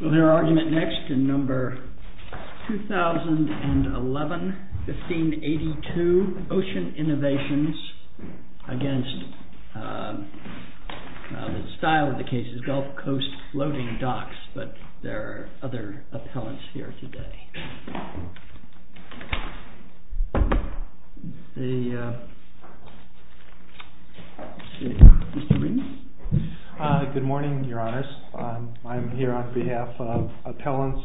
20011-1582 Ocean Innovations v. Gulf Coast Floating Docks Appellant Mr. Reid Good morning, your honors. I'm here on behalf of Appellant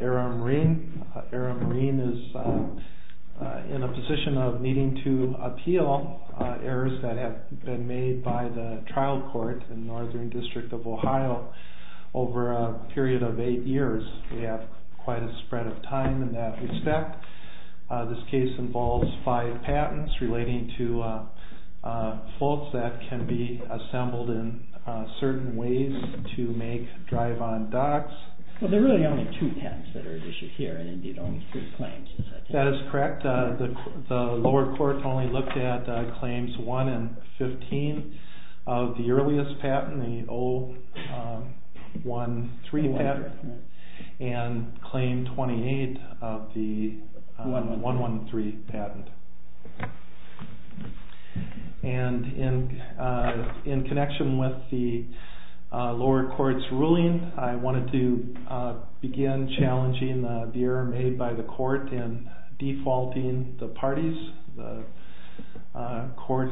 Aram Reid. Aram Reid is in a position of needing to appeal errors that have been made by the trial court in the Northern District of Ohio over a period of 8 years. We have quite a spread of time in that respect. This case involves 5 patents relating to floats that can be assembled in certain ways to make drive-on docks. There are really only 2 patents that are at issue here, and indeed only 3 claims. That is correct. The lower court only looked at claims 1 and 15 of the earliest patent, the 013 patent, and claim 28 of the 113 patent. In connection with the lower court's ruling, I wanted to begin challenging the error made by the court in defaulting the parties. The court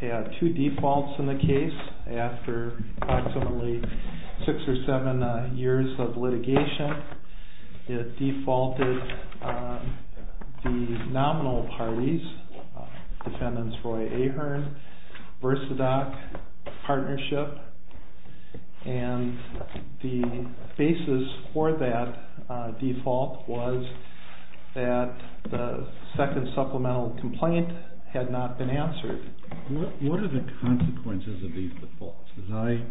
had 2 defaults in the case after approximately 6 or 7 years of litigation. It defaulted the nominal parties, defendants Roy Ahearn, Versadoc, Partnership, and the basis for that default was that the second supplemental complaint had not been answered. What are the consequences of these defaults? As I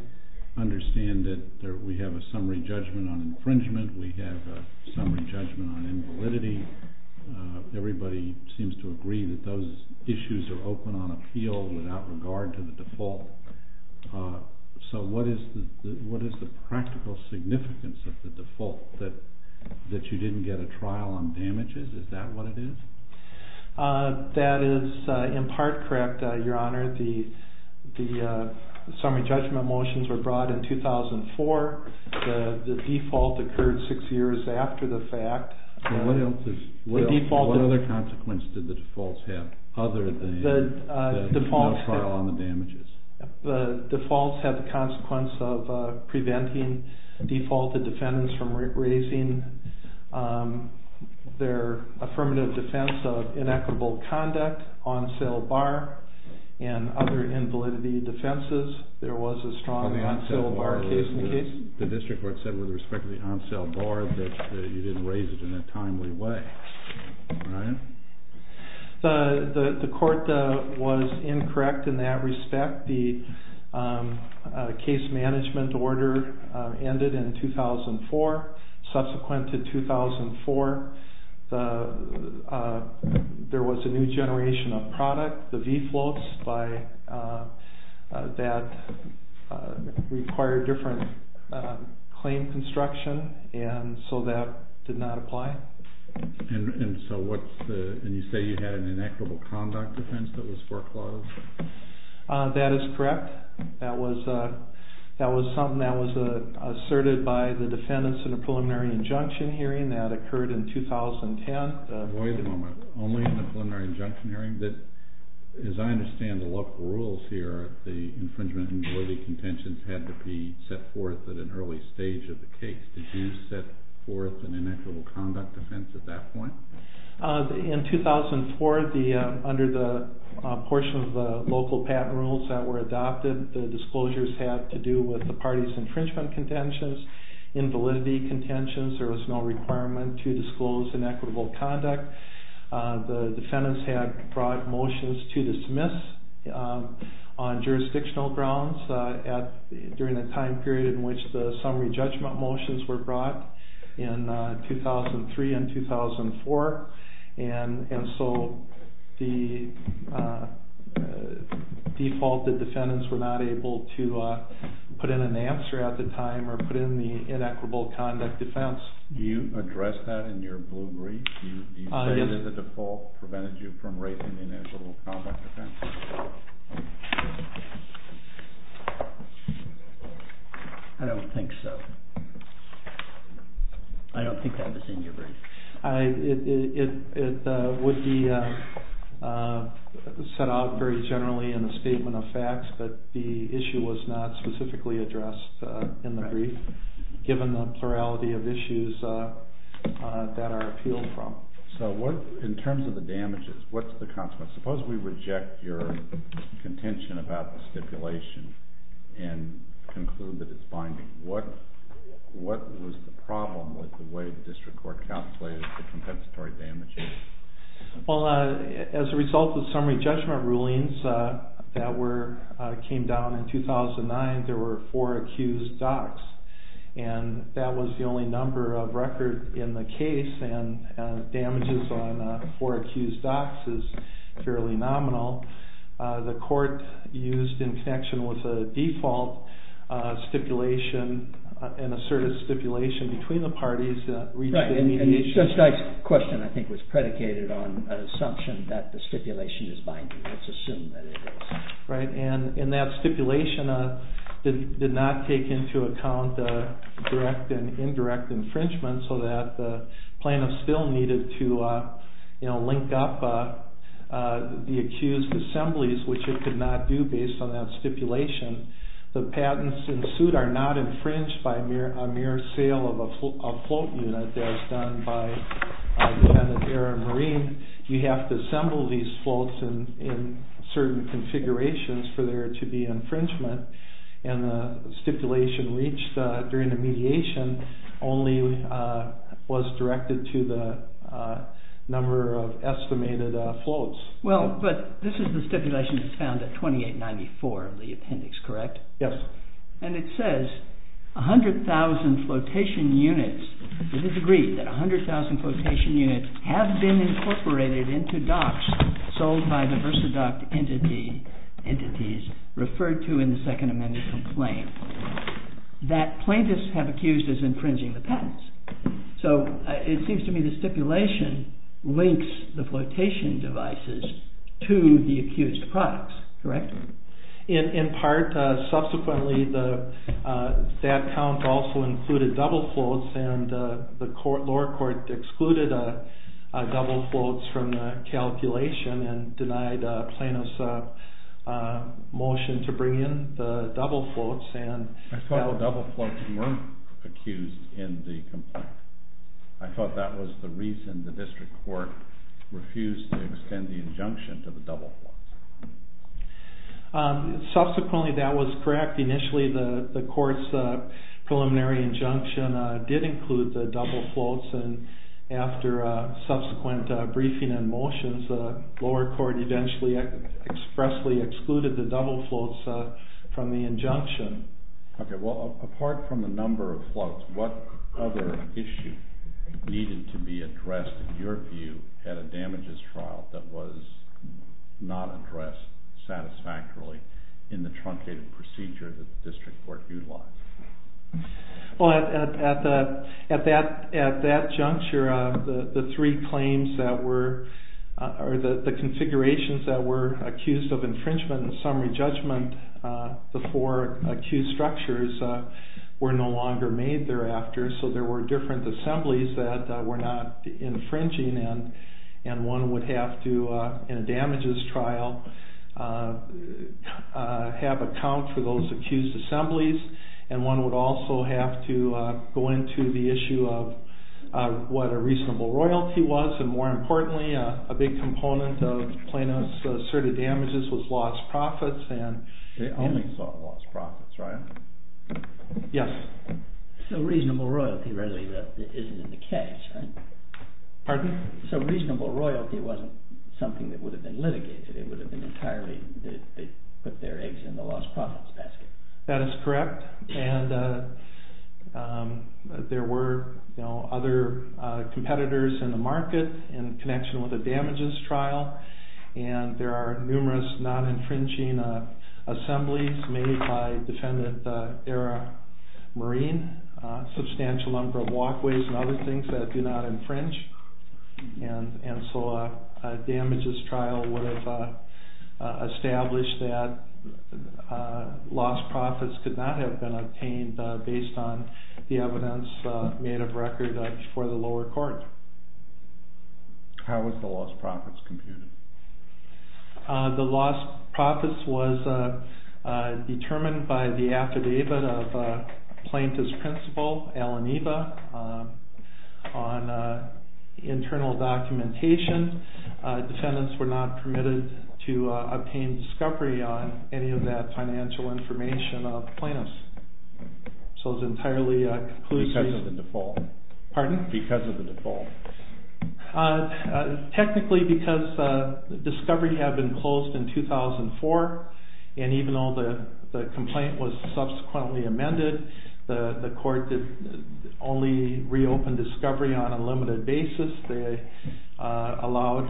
understand it, we have a summary judgment on infringement, we have a summary judgment on invalidity. Everybody seems to agree that those issues are open on appeal without regard to the default. What is the practical significance of the default? That you didn't get a trial on damages? Is that what it is? That is in part correct, Your Honor. The summary judgment motions were brought in 2004. The default occurred 6 years after the fact. What other consequences did the defaults have other than a trial on the damages? The defaults had the consequence of preventing defaulted defendants from raising their affirmative defense of inequitable conduct, on sale bar, and other invalidity defenses. There was a strong on sale bar case in the case. The district court said with respect to the on sale bar that you didn't raise it in a timely way, right? The court was incorrect in that respect. The case management order ended in 2004. Subsequent to 2004, there was a new generation of product, the v-floats, that required different claim construction, and so that did not apply. And you say you had an inequitable conduct defense that was foreclosed? That is correct. That was something that was asserted by the defendants in the preliminary injunction hearing that occurred in 2010. Wait a moment. Only in the preliminary injunction hearing? As I understand the local rules here, the infringement and validity contentions had to be set forth at an early stage of the case. Did you set forth an inequitable conduct defense at that point? In 2004, under the portion of the local patent rules that were adopted, the disclosures had to do with the party's infringement contentions, invalidity contentions. There was no requirement to disclose inequitable conduct. The defendants had brought motions to dismiss on jurisdictional grounds during the time period in which the summary judgment motions were brought in 2003 and 2004, and so the defaulted defendants were not able to put in an answer at the time or put in the inequitable conduct defense. Do you address that in your blue brief? Do you say that the default prevented you from raising the inequitable conduct defense? I don't think so. I don't think that was in your brief. It would be set out very generally in a statement of facts, but the issue was not specifically addressed in the brief, given the plurality of issues that are appealed from. So in terms of the damages, what's the consequence? Well, as a result of summary judgment rulings that came down in 2009, there were four accused docs, and that was the only number of record in the case, and damages on four accused docs is fairly nominal. The court used, in connection with the default stipulation, an assertive stipulation between the parties. Right, and Judge Dyke's question, I think, was predicated on an assumption that the stipulation is binding. Let's assume that it is. And that stipulation did not take into account direct and indirect infringement, so that the plaintiff still needed to link up the accused assemblies, which it could not do based on that stipulation. The patents in suit are not infringed by a mere sale of a float unit, as done by a dependent air and marine. You have to assemble these floats in certain configurations for there to be infringement, and the stipulation reached during the mediation only was directed to the number of estimated floats. Well, but this is the stipulation that's found at 2894 of the appendix, correct? Yes. And it says, 100,000 flotation units, it is agreed that 100,000 flotation units have been incorporated into docs sold by the versaduct entities referred to in the Second Amendment complaint, that plaintiffs have accused as infringing the patents. So, it seems to me the stipulation links the flotation devices to the accused products, correct? In part. Subsequently, that count also included double floats, and the lower court excluded double floats from the calculation and denied plaintiffs' motion to bring in the double floats. I thought the double floats weren't accused in the complaint. I thought that was the reason the district court refused to extend the injunction to the double floats. Subsequently, that was correct. Initially, the court's preliminary injunction did include the double floats, and after subsequent briefing and motions, the lower court eventually expressly excluded the double floats from the injunction. Well, apart from the number of floats, what other issue needed to be addressed, in your view, at a damages trial that was not addressed satisfactorily in the truncated procedure that the district court utilized? Well, at that juncture, the three claims that were, or the configurations that were accused of infringement and summary judgment, the four accused structures were no longer made thereafter. So, there were different assemblies that were not infringing, and one would have to, in a damages trial, have account for those accused assemblies. And one would also have to go into the issue of what a reasonable royalty was, and more importantly, a big component of plaintiffs' asserted damages was lost profits. They only sought lost profits, right? Yes. So, reasonable royalty really isn't in the case, right? Pardon? So, reasonable royalty wasn't something that would have been litigated. It would have been entirely, they put their eggs in the lost profits basket. That is correct. And there were other competitors in the market in connection with the damages trial, and there are numerous non-infringing assemblies made by defendant-era marine, a substantial number of walkways and other things that do not infringe. And so, a damages trial would have established that lost profits could not have been obtained based on the evidence made of record for the lower court. How was the lost profits computed? The lost profits was determined by the affidavit of plaintiff's principal, Alan Eva, on internal documentation. Defendants were not permitted to obtain discovery on any of that financial information of plaintiffs. So, it's entirely conclusive. Because of the default. Pardon? Because of the default. Technically, because discovery had been closed in 2004, and even though the complaint was subsequently amended, the court only reopened discovery on a limited basis. They allowed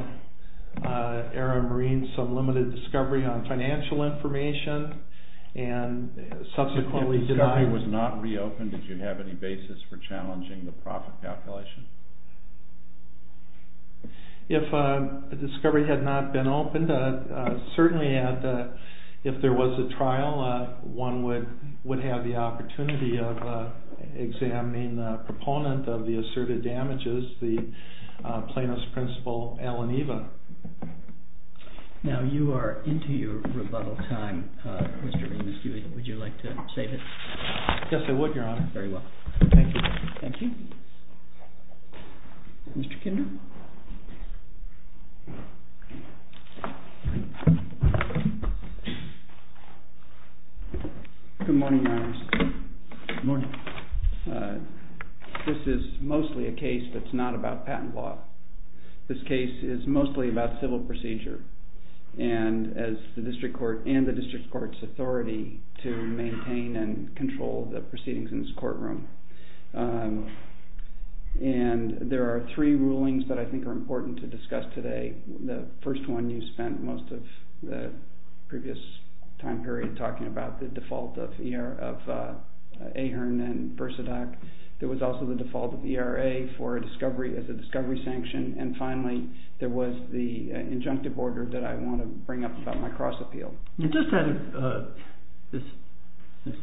era marine some limited discovery on financial information and subsequently denied... If discovery was not reopened, did you have any basis for challenging the profit calculation? If discovery had not been opened, certainly if there was a trial, one would have the opportunity of examining the proponent of the asserted damages, the plaintiff's principal, Alan Eva. Now, you are into your rebuttal time, Mr. Remus. Would you like to save it? Yes, I would, Your Honor. Very well. Thank you. Thank you. Mr. Kinder? Good morning, Your Honor. Good morning. This is mostly a case that's not about patent law. This case is mostly about civil procedure and the district court's authority to maintain and control the proceedings in this courtroom. And there are three rulings that I think are important to discuss today. The first one you spent most of the previous time period talking about, the default of Ahern and Versadach. There was also the default of ERA for a discovery as a discovery sanction. And finally, there was the injunctive order that I want to bring up about my cross appeal. Since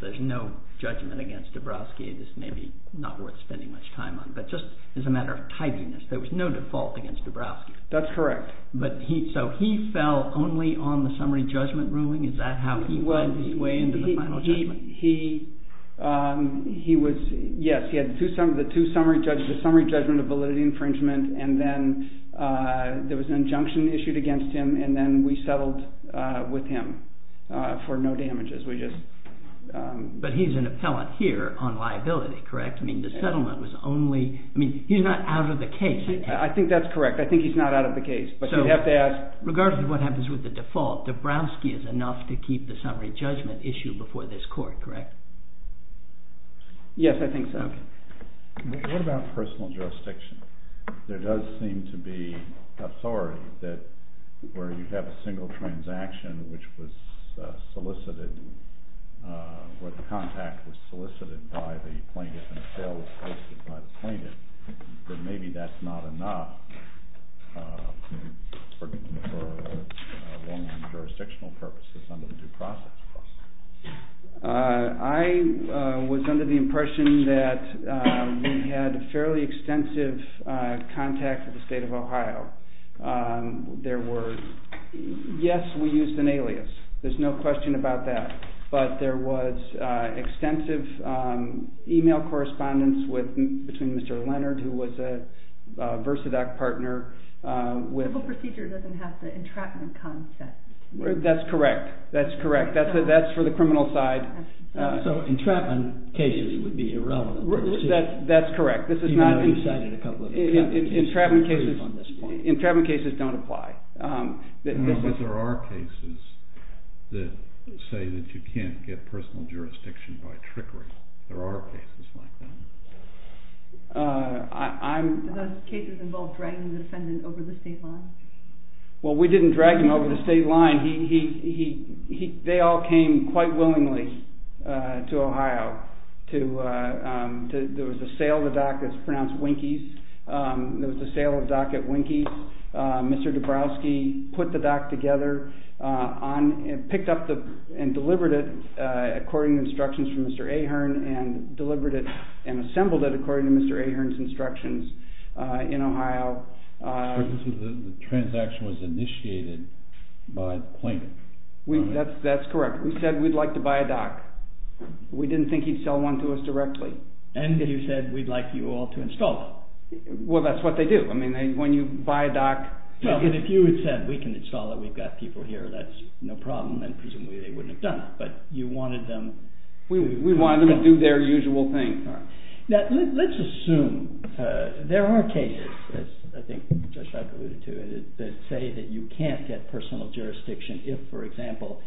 there's no judgment against Dabrowski, this may be not worth spending much time on. But just as a matter of tidiness, there was no default against Dabrowski. That's correct. So he fell only on the summary judgment ruling? Is that how he went his way into the final judgment? Yes, he had the summary judgment of validity infringement. And then there was an injunction issued against him. And then we settled with him for no damages. But he's an appellant here on liability, correct? I mean, he's not out of the case. I think that's correct. I think he's not out of the case. Regardless of what happens with the default, Dabrowski is enough to keep the summary judgment issue before this court, correct? Yes, I think so. What about personal jurisdiction? There does seem to be authority that where you have a single transaction which was solicited, where the contact was solicited by the plaintiff and the sale was solicited by the plaintiff, that maybe that's not enough for long-term jurisdictional purposes under the due process process. I was under the impression that we had fairly extensive contact with the state of Ohio. Yes, we used an alias. There's no question about that. But there was extensive email correspondence between Mr. Leonard, who was a Versadoc partner. The simple procedure doesn't have the entrapment concept. That's correct. That's correct. That's for the criminal side. So entrapment cases would be irrelevant. That's correct. Even though you cited a couple of cases. Entrapment cases don't apply. But there are cases that say that you can't get personal jurisdiction by trickery. There are cases like that. Do those cases involve dragging the defendant over the state line? Well, we didn't drag him over the state line. They all came quite willingly to Ohio. There was a sale of a dock that's pronounced Winkies. There was a sale of a dock at Winkies. Mr. Dabrowski put the dock together, picked up and delivered it according to instructions from Mr. Ahern, and delivered it and assembled it according to Mr. Ahern's instructions in Ohio. The transaction was initiated by plaintiff. That's correct. We said we'd like to buy a dock. We didn't think he'd sell one to us directly. And you said we'd like you all to install it. Well, that's what they do. I mean, when you buy a dock... Well, if you had said we can install it, we've got people here, that's no problem, and presumably they wouldn't have done it. But you wanted them... We wanted them to do their usual thing. Now, let's assume there are cases, as I think Josh alluded to, that say that you can't get personal jurisdiction if, for example,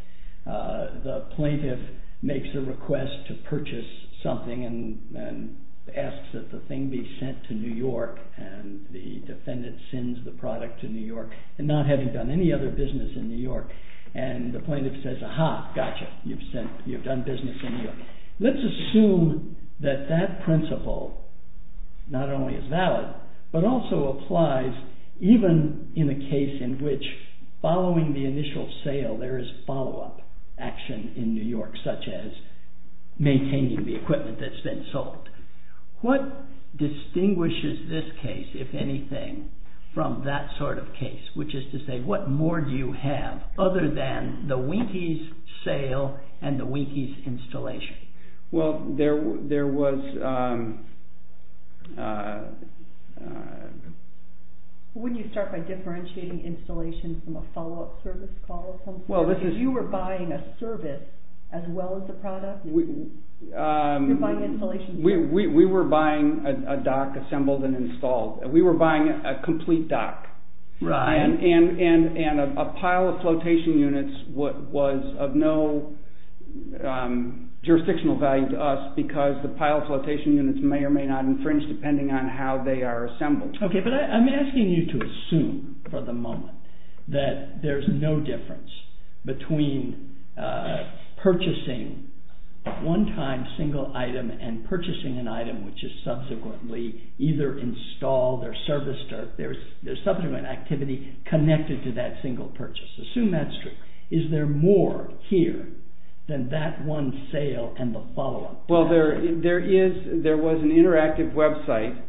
the plaintiff makes a request to purchase something and asks that the thing be sent to New York and the defendant sends the product to New York and not having done any other business in New York, and the plaintiff says, Aha, gotcha, you've done business in New York. Let's assume that that principle not only is valid, but also applies even in a case in which following the initial sale there is follow-up action in New York, such as maintaining the equipment that's been sold. What distinguishes this case, if anything, from that sort of case, which is to say what more do you have other than the Winkie's sale and the Winkie's installation? Well, there was... Wouldn't you start by differentiating installation from a follow-up service call? Well, this is... You were buying a service as well as a product? We were buying a dock assembled and installed. We were buying a complete dock. Right. And a pile of flotation units was of no jurisdictional value to us because the pile of flotation units may or may not infringe depending on how they are assembled. Okay, but I'm asking you to assume for the moment that there's no difference between purchasing one time single item and purchasing an item which is subsequently either installed or serviced or there's subsequent activity connected to that single purchase. Assume that's true. Is there more here than that one sale and the follow-up? Well, there is... There was an interactive website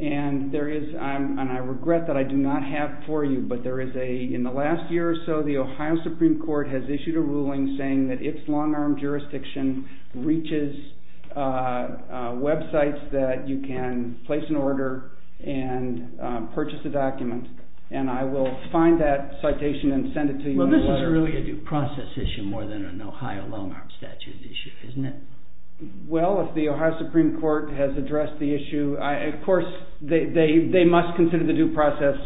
and there is... And I regret that I do not have for you, but there is a... In the last year or so, the Ohio Supreme Court has issued a ruling saying that its long-arm jurisdiction reaches websites that you can place an order and purchase a document. And I will find that citation and send it to you in a letter. Well, this is really a due process issue more than an Ohio long-arm statute issue, isn't it? Well, if the Ohio Supreme Court has addressed the issue, of course, they must consider the due process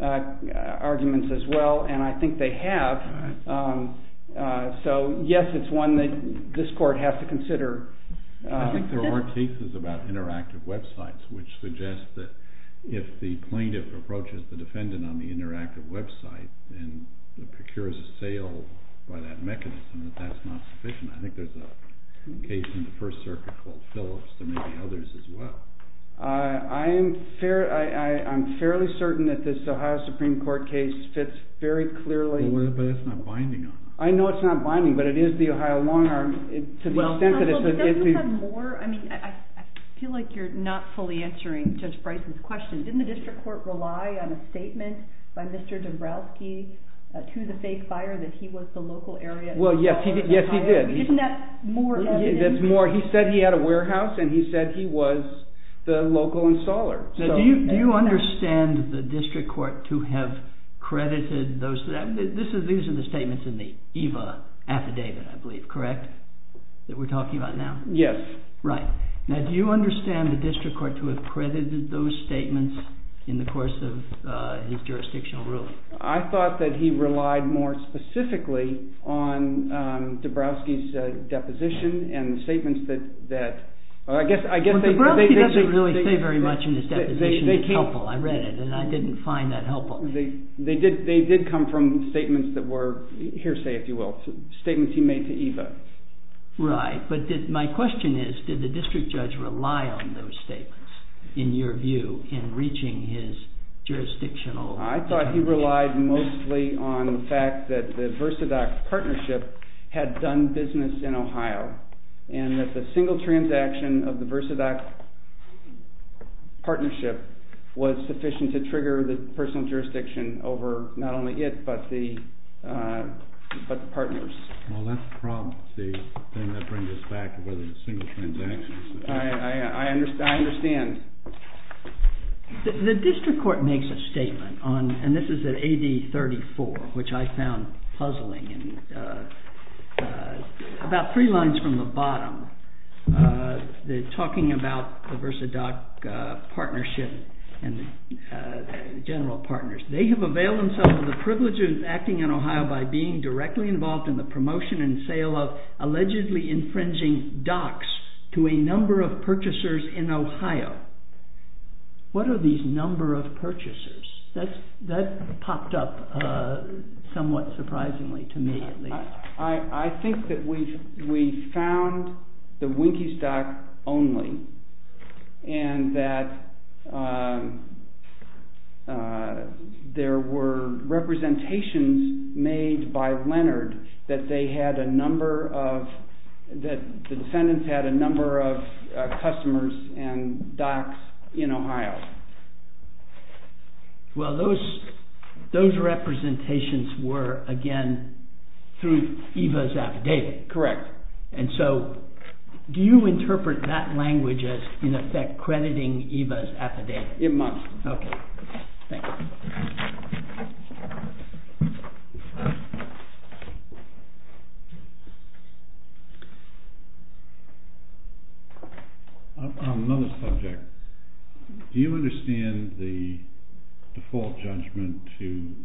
arguments as well, and I think they have. So, yes, it's one that this court has to consider. I think there are cases about interactive websites which suggest that if the plaintiff approaches the defendant on the interactive website and procures a sale by that mechanism, that that's not sufficient. I think there's a case in the First Circuit called Phillips. There may be others as well. I'm fairly certain that this Ohio Supreme Court case fits very clearly... I know it's not binding, but it is the Ohio long-arm to the extent that it's... Counsel, do you have more? I feel like you're not fully answering Judge Price's question. Didn't the district court rely on a statement by Mr. Dombrowski to the fake buyer that he was the local area installer? Well, yes, he did. Isn't that more evidence? He said he had a warehouse and he said he was the local installer. Do you understand the district court to have credited those? These are the statements in the EVA affidavit, I believe, correct? That we're talking about now? Yes. Right. Now, do you understand the district court to have credited those statements in the course of his jurisdictional ruling? I thought that he relied more specifically on Dombrowski's deposition and the statements that... Well, Dombrowski doesn't really say very much in his deposition. It's helpful. I read it, and I didn't find that helpful. They did come from statements that were hearsay, if you will, statements he made to EVA. Right. But my question is, did the district judge rely on those statements, in your view, in reaching his jurisdictional... I thought he relied mostly on the fact that the Versadoc partnership had done business in Ohio and that the single transaction of the Versadoc partnership was sufficient to trigger the personal jurisdiction over not only it but the partners. Well, that's the problem, Steve, the thing that brings us back to whether it's a single transaction. I understand. The district court makes a statement, and this is in AD 34, which I found puzzling. About three lines from the bottom, talking about the Versadoc partnership and general partners. They have availed themselves of the privileges acting in Ohio by being directly involved in the promotion and sale of allegedly infringing docs to a number of purchasers in Ohio. What are these number of purchasers? That popped up somewhat surprisingly to me, at least. I think that we found the Winkie's Doc only and that there were representations made by Leonard that the defendants had a number of customers and docs in Ohio. Well, those representations were, again, through EVA's affidavit. Correct. And so, do you interpret that language as, in effect, crediting EVA's affidavit? It must. Okay. Thank you. On another subject, do you understand the default judgment to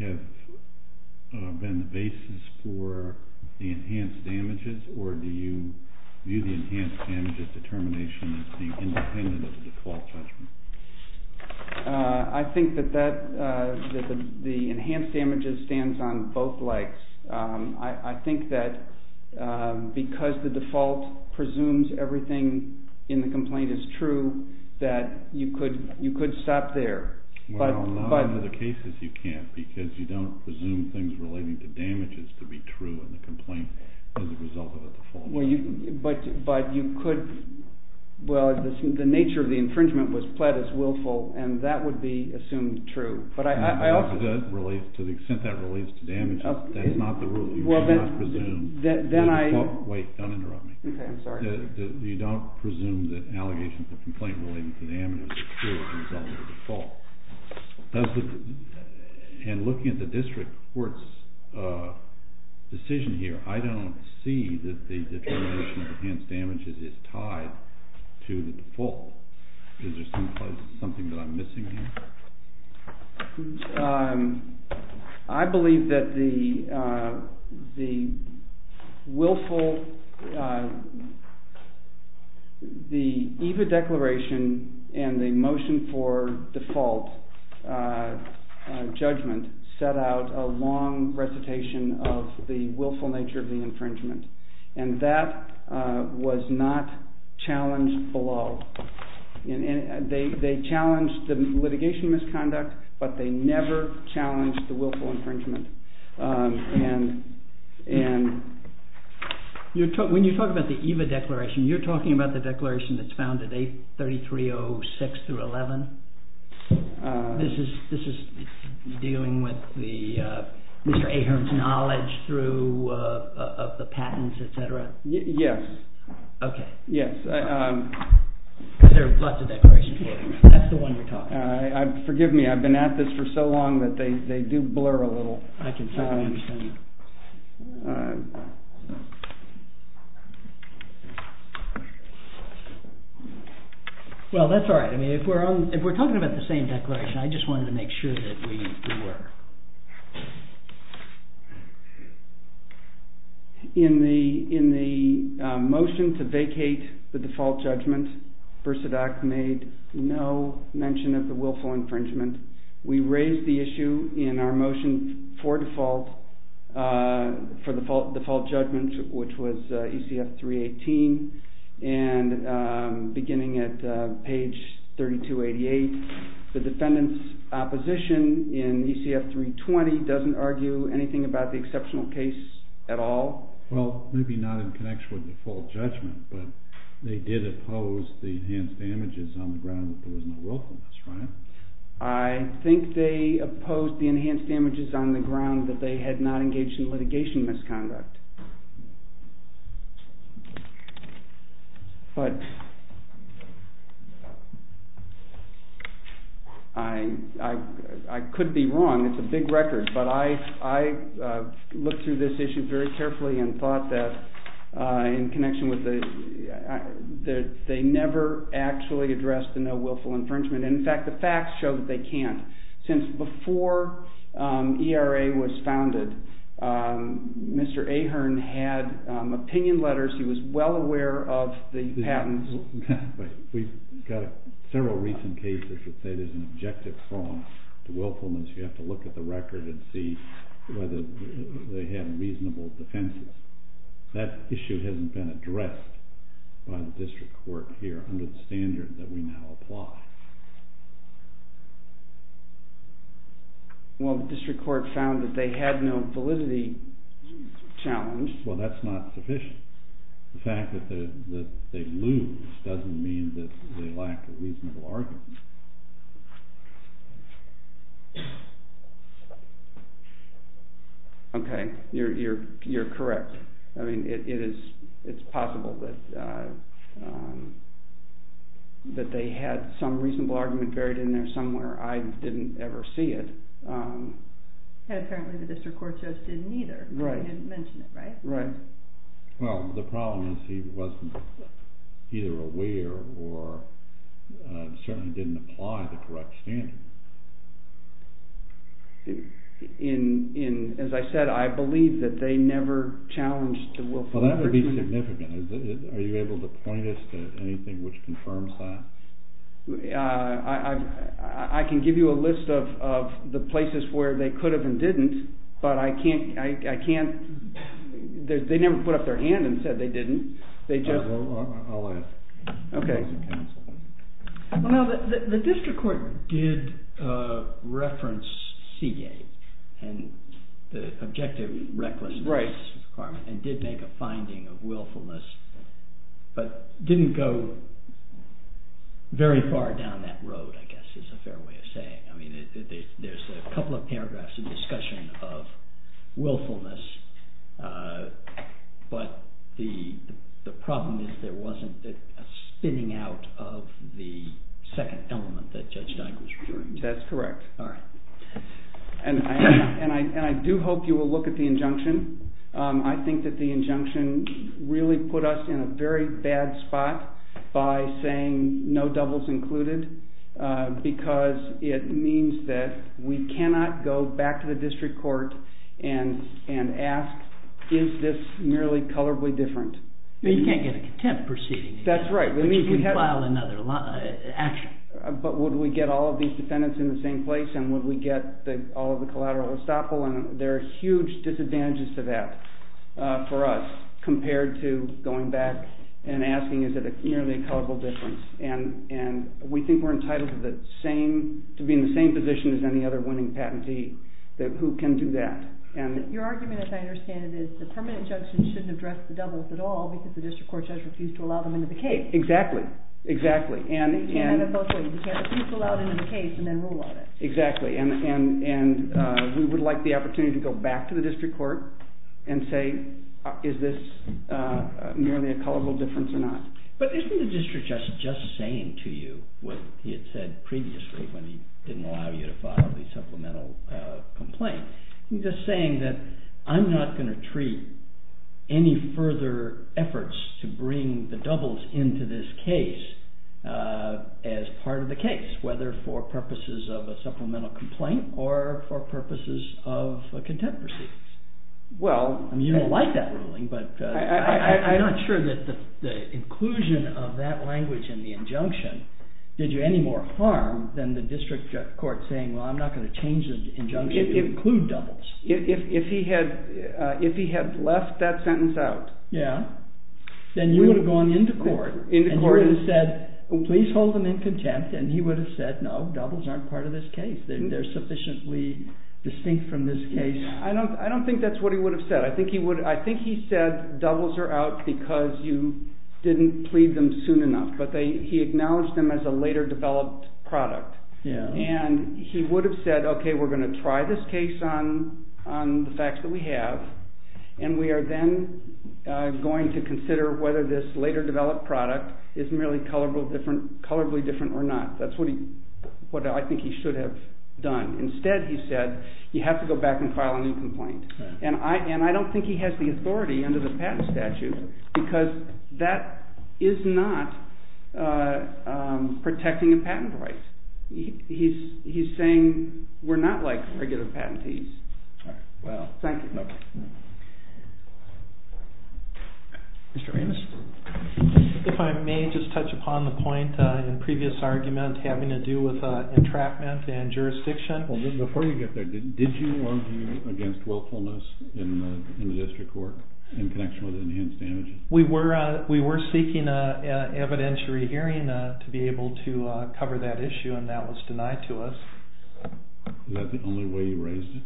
have been the basis for the enhanced damages, or do you view the enhanced damages determination as being independent of the default judgment? The enhanced damages stands on both legs. I think that because the default presumes everything in the complaint is true, that you could stop there. Well, not in other cases you can't, because you don't presume things relating to damages to be true in the complaint as a result of the default. But you could, well, the nature of the infringement was pled as willful, and that would be assumed true. To the extent that it relates to damages, that's not the rule. You cannot presume the default. Wait, don't interrupt me. Okay, I'm sorry. You don't presume that allegations of the complaint relating to damages are true as a result of the default. And looking at the district court's decision here, I don't see that the determination of the enhanced damages is tied to the default. Is there something that I'm missing here? I believe that the willful, the EVA declaration and the motion for default judgment set out a long recitation of the willful nature of the infringement, and that was not challenged below. They challenged the litigation misconduct, but they never challenged the willful infringement. When you talk about the EVA declaration, you're talking about the declaration that's found at 3306 through 11? This is dealing with Mr. Ahern's knowledge through the patents, et cetera? Yes. Okay. Yes. There are lots of declarations. That's the one you're talking about. Forgive me. I've been at this for so long that they do blur a little. I can certainly understand that. Well, that's all right. If we're talking about the same declaration, I just wanted to make sure that we were. In the motion to vacate the default judgment, BERSADAC made no mention of the willful infringement. We raised the issue in our motion for default judgment, which was ECF 318, and beginning at page 3288, the defendant's opposition in ECF 320 doesn't argue anything about the exceptional case at all? Well, maybe not in connection with default judgment, but they did oppose the enhanced damages on the ground that there was no willfulness, right? I think they opposed the enhanced damages on the ground that they had not engaged in litigation misconduct. But I could be wrong. It's a big record. But I looked through this issue very carefully and thought that in connection with the they never actually addressed the no willful infringement. In fact, the facts show that they can't. Since before ERA was founded, Mr. Ahern had opinion letters. He was well aware of the patents. We've got several recent cases that say there's an objective flaw to willfulness. You have to look at the record and see whether they have reasonable defenses. That issue hasn't been addressed by the district court here under the standard that we now apply. Well, the district court found that they had no validity challenge. Well, that's not sufficient. The fact that they lose doesn't mean that they lack a reasonable argument. Okay. You're correct. It's possible that they had some reasonable argument buried in there somewhere. I didn't ever see it. Apparently the district court just didn't either. Right. They didn't mention it, right? Right. Well, the problem is he wasn't either aware or certainly didn't apply the correct standard. As I said, I believe that they never challenged the willfulness. Well, that would be significant. Are you able to point us to anything which confirms that? I can give you a list of the places where they could have and didn't, but I can't. They never put up their hand and said they didn't. I'll ask. Okay. Well, now, the district court did reference Seagate and the objective recklessness requirement and did make a finding of willfulness, but didn't go very far down that road, I guess, is a fair way of saying. I mean, there's a couple of paragraphs in the discussion of willfulness, but the problem is there wasn't a spinning out of the second element that Judge Steinberg was referring to. That's correct. All right. And I do hope you will look at the injunction. I think that the injunction really put us in a very bad spot by saying is this merely colorably different? You can't get a contempt proceeding. That's right. You can't file another action. But would we get all of these defendants in the same place, and would we get all of the collateral estoppel? And there are huge disadvantages to that for us compared to going back and asking is it merely a colorable difference. And we think we're entitled to be in the same position as any other winning patentee who can do that. Your argument, as I understand it, is the permanent injunction shouldn't address the doubles at all because the district court judge refused to allow them into the case. Exactly. Exactly. You can't have it both ways. You can't refuse to allow it into the case and then rule on it. Exactly. And we would like the opportunity to go back to the district court and say is this merely a colorable difference or not. But isn't the district judge just saying to you what he had said previously when he didn't allow you to file the supplemental complaint? He's just saying that I'm not going to treat any further efforts to bring the doubles into this case as part of the case, whether for purposes of a supplemental complaint or for purposes of contempt proceedings. Well. I mean, you don't like that ruling, but I'm not sure that the inclusion of that language in the injunction did you any more harm than the district court saying, well, I'm not going to change the injunction. Include doubles. If he had left that sentence out. Yeah. Then you would have gone into court and you would have said, please hold them in contempt, and he would have said, no, doubles aren't part of this case. They're sufficiently distinct from this case. I don't think that's what he would have said. I think he said doubles are out because you didn't plead them soon enough, but he acknowledged them as a later developed product. Yeah. And he would have said, okay, we're going to try this case on the facts that we have, and we are then going to consider whether this later developed product is merely colorably different or not. That's what I think he should have done. Instead, he said, you have to go back and file a new complaint. And I don't think he has the authority under the patent statute because that is not protecting a patent right. He's saying we're not like regulative patentees. All right. Well, thank you. Okay. Mr. Ramis? If I may just touch upon the point in the previous argument having to do with entrapment and jurisdiction. Before we get there, did you argue against willfulness in the district court in connection with enhanced damages? We were seeking an evidentiary hearing to be able to cover that issue, and that was denied to us. Is that the only way you raised it?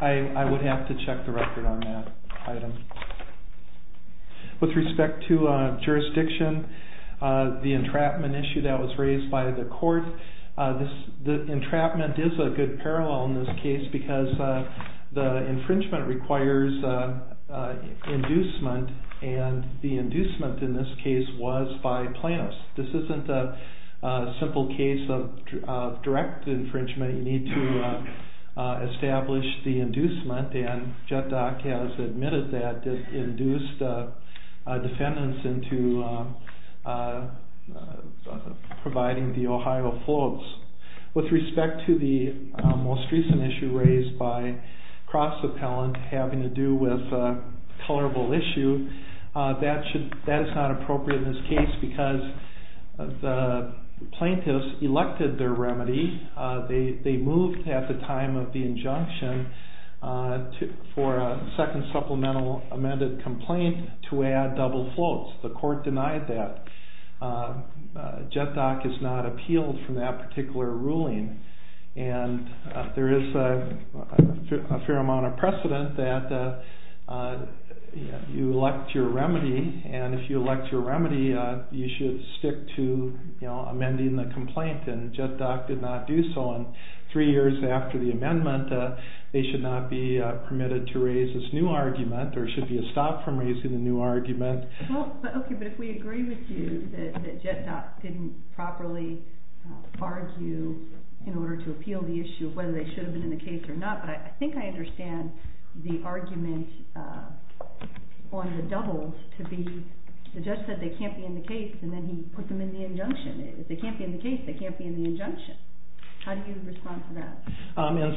I would have to check the record on that item. With respect to jurisdiction, the entrapment issue that was raised by the court, the entrapment is a good parallel in this case because the infringement requires inducement, and the inducement in this case was by Planos. This isn't a simple case of direct infringement. You need to establish the inducement, and JetDoc has admitted that it induced defendants into providing the Ohio floats. With respect to the most recent issue raised by Cross Appellant having to do with a colorable issue, that is not appropriate in this case because the plaintiffs elected their remedy. They moved at the time of the injunction for a second supplemental amended complaint to add double floats. The court denied that. JetDoc has not appealed from that particular ruling, and there is a fair amount of precedent that you elect your remedy, and if you elect your remedy, you should stick to amending the complaint, and JetDoc did not do so, and three years after the amendment, they should not be permitted to raise this new argument, or should be stopped from raising the new argument. Okay, but if we agree with you that JetDoc didn't properly argue in order to appeal the issue of whether they should have been in the case or not, but I think I understand the argument on the doubles to be the judge said they can't be in the case, and then he put them in the injunction. If they can't be in the case, they can't be in the injunction. How do you respond to that?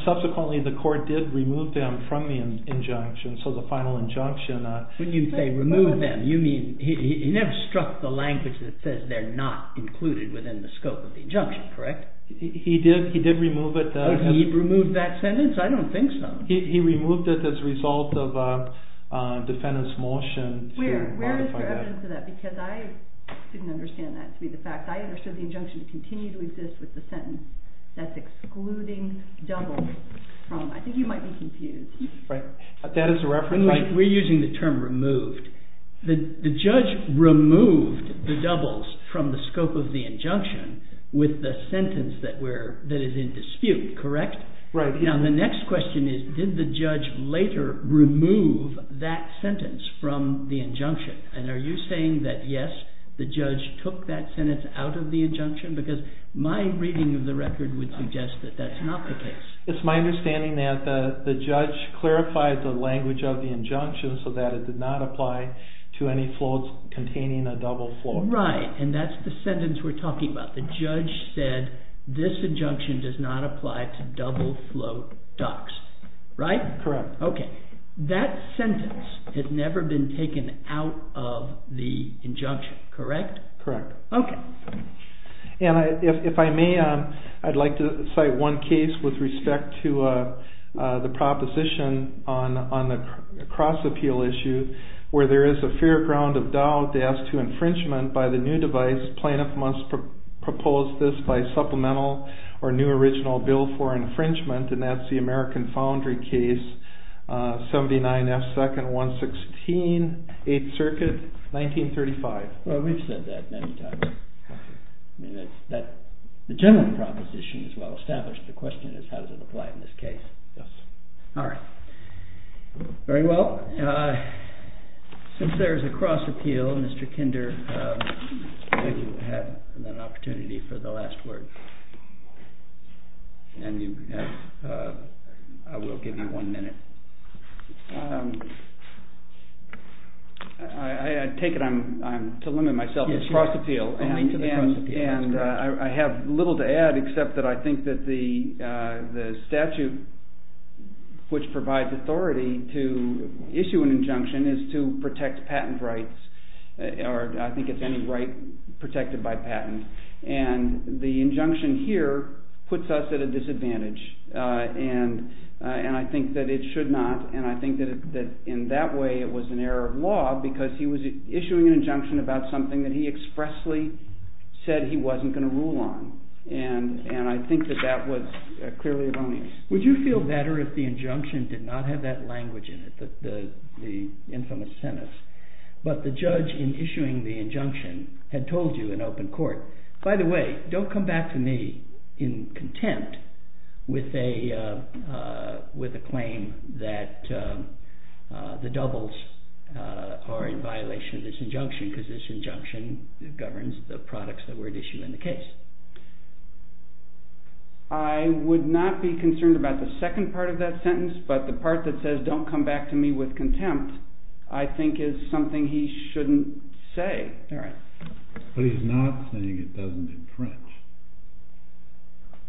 Subsequently, the court did remove them from the injunction, so the final injunction. When you say remove them, you mean he never struck the language that says they're not included within the scope of the injunction, correct? He did remove it. He removed that sentence? I don't think so. He removed it as a result of a defendant's motion to modify that. Where is your evidence of that? Because I didn't understand that to be the fact. I understood the injunction to continue to exist with the sentence that's excluding doubles. I think you might be confused. We're using the term removed. The judge removed the doubles from the scope of the injunction with the sentence that is in dispute, correct? Now, the next question is did the judge later remove that sentence from the injunction? And are you saying that, yes, the judge took that sentence out of the injunction? Because my reading of the record would suggest that that's not the case. It's my understanding that the judge clarified the language of the injunction so that it did not apply to any floats containing a double float. Right, and that's the sentence we're talking about. The judge said this injunction does not apply to double float ducks, right? Correct. Okay, that sentence has never been taken out of the injunction, correct? Correct. Okay. And if I may, I'd like to cite one case with respect to the proposition on the cross-appeal issue where there is a fair ground of doubt as to infringement by the new device. Plaintiff must propose this by supplemental or new original bill for infringement, and that's the American Foundry case, 79 F. 2nd, 116, 8th Circuit, 1935. Well, we've said that many times. The general proposition is well established. The question is how does it apply in this case. Yes. All right. Very well. Since there is a cross-appeal, Mr. Kinder, I think you have an opportunity for the last word. And I will give you one minute. I take it I'm to limit myself to cross-appeal. Yes, you are. Only to the cross-appeal. And I have little to add except that I think that the statute which provides authority to issue an injunction is to protect patent rights, or I think it's any right protected by patent. And the injunction here puts us at a disadvantage, and I think that it should not, and I think that in that way it was an error of law because he was issuing an injunction about something that he expressly said he wasn't going to rule on. And I think that that was clearly erroneous. Would you feel better if the injunction did not have that language in it, the infamous sentence, but the judge in issuing the injunction had told you in open court, by the way, don't come back to me in contempt with a claim that the doubles are in violation of this injunction because this injunction governs the products that were issued in the case? I would not be concerned about the second part of that sentence, but the part that says don't come back to me with contempt I think is something he shouldn't say. But he's not saying it doesn't infringe.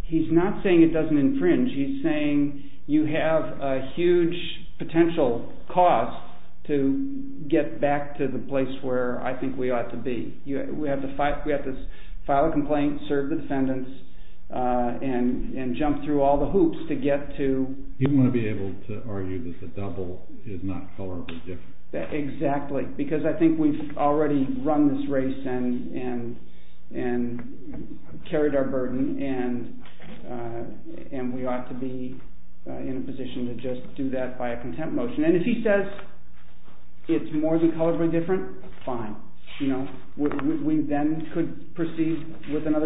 He's not saying it doesn't infringe. He's saying you have a huge potential cost to get back to the place where I think we ought to be. We have to file a complaint, serve the defendants, and jump through all the hoops to get to... You want to be able to argue that the double is not colorably different. Exactly, because I think we've already run this race and carried our burden, and we ought to be in a position to just do that by a contempt motion. And if he says it's more than colorably different, fine. We then could proceed with another claim.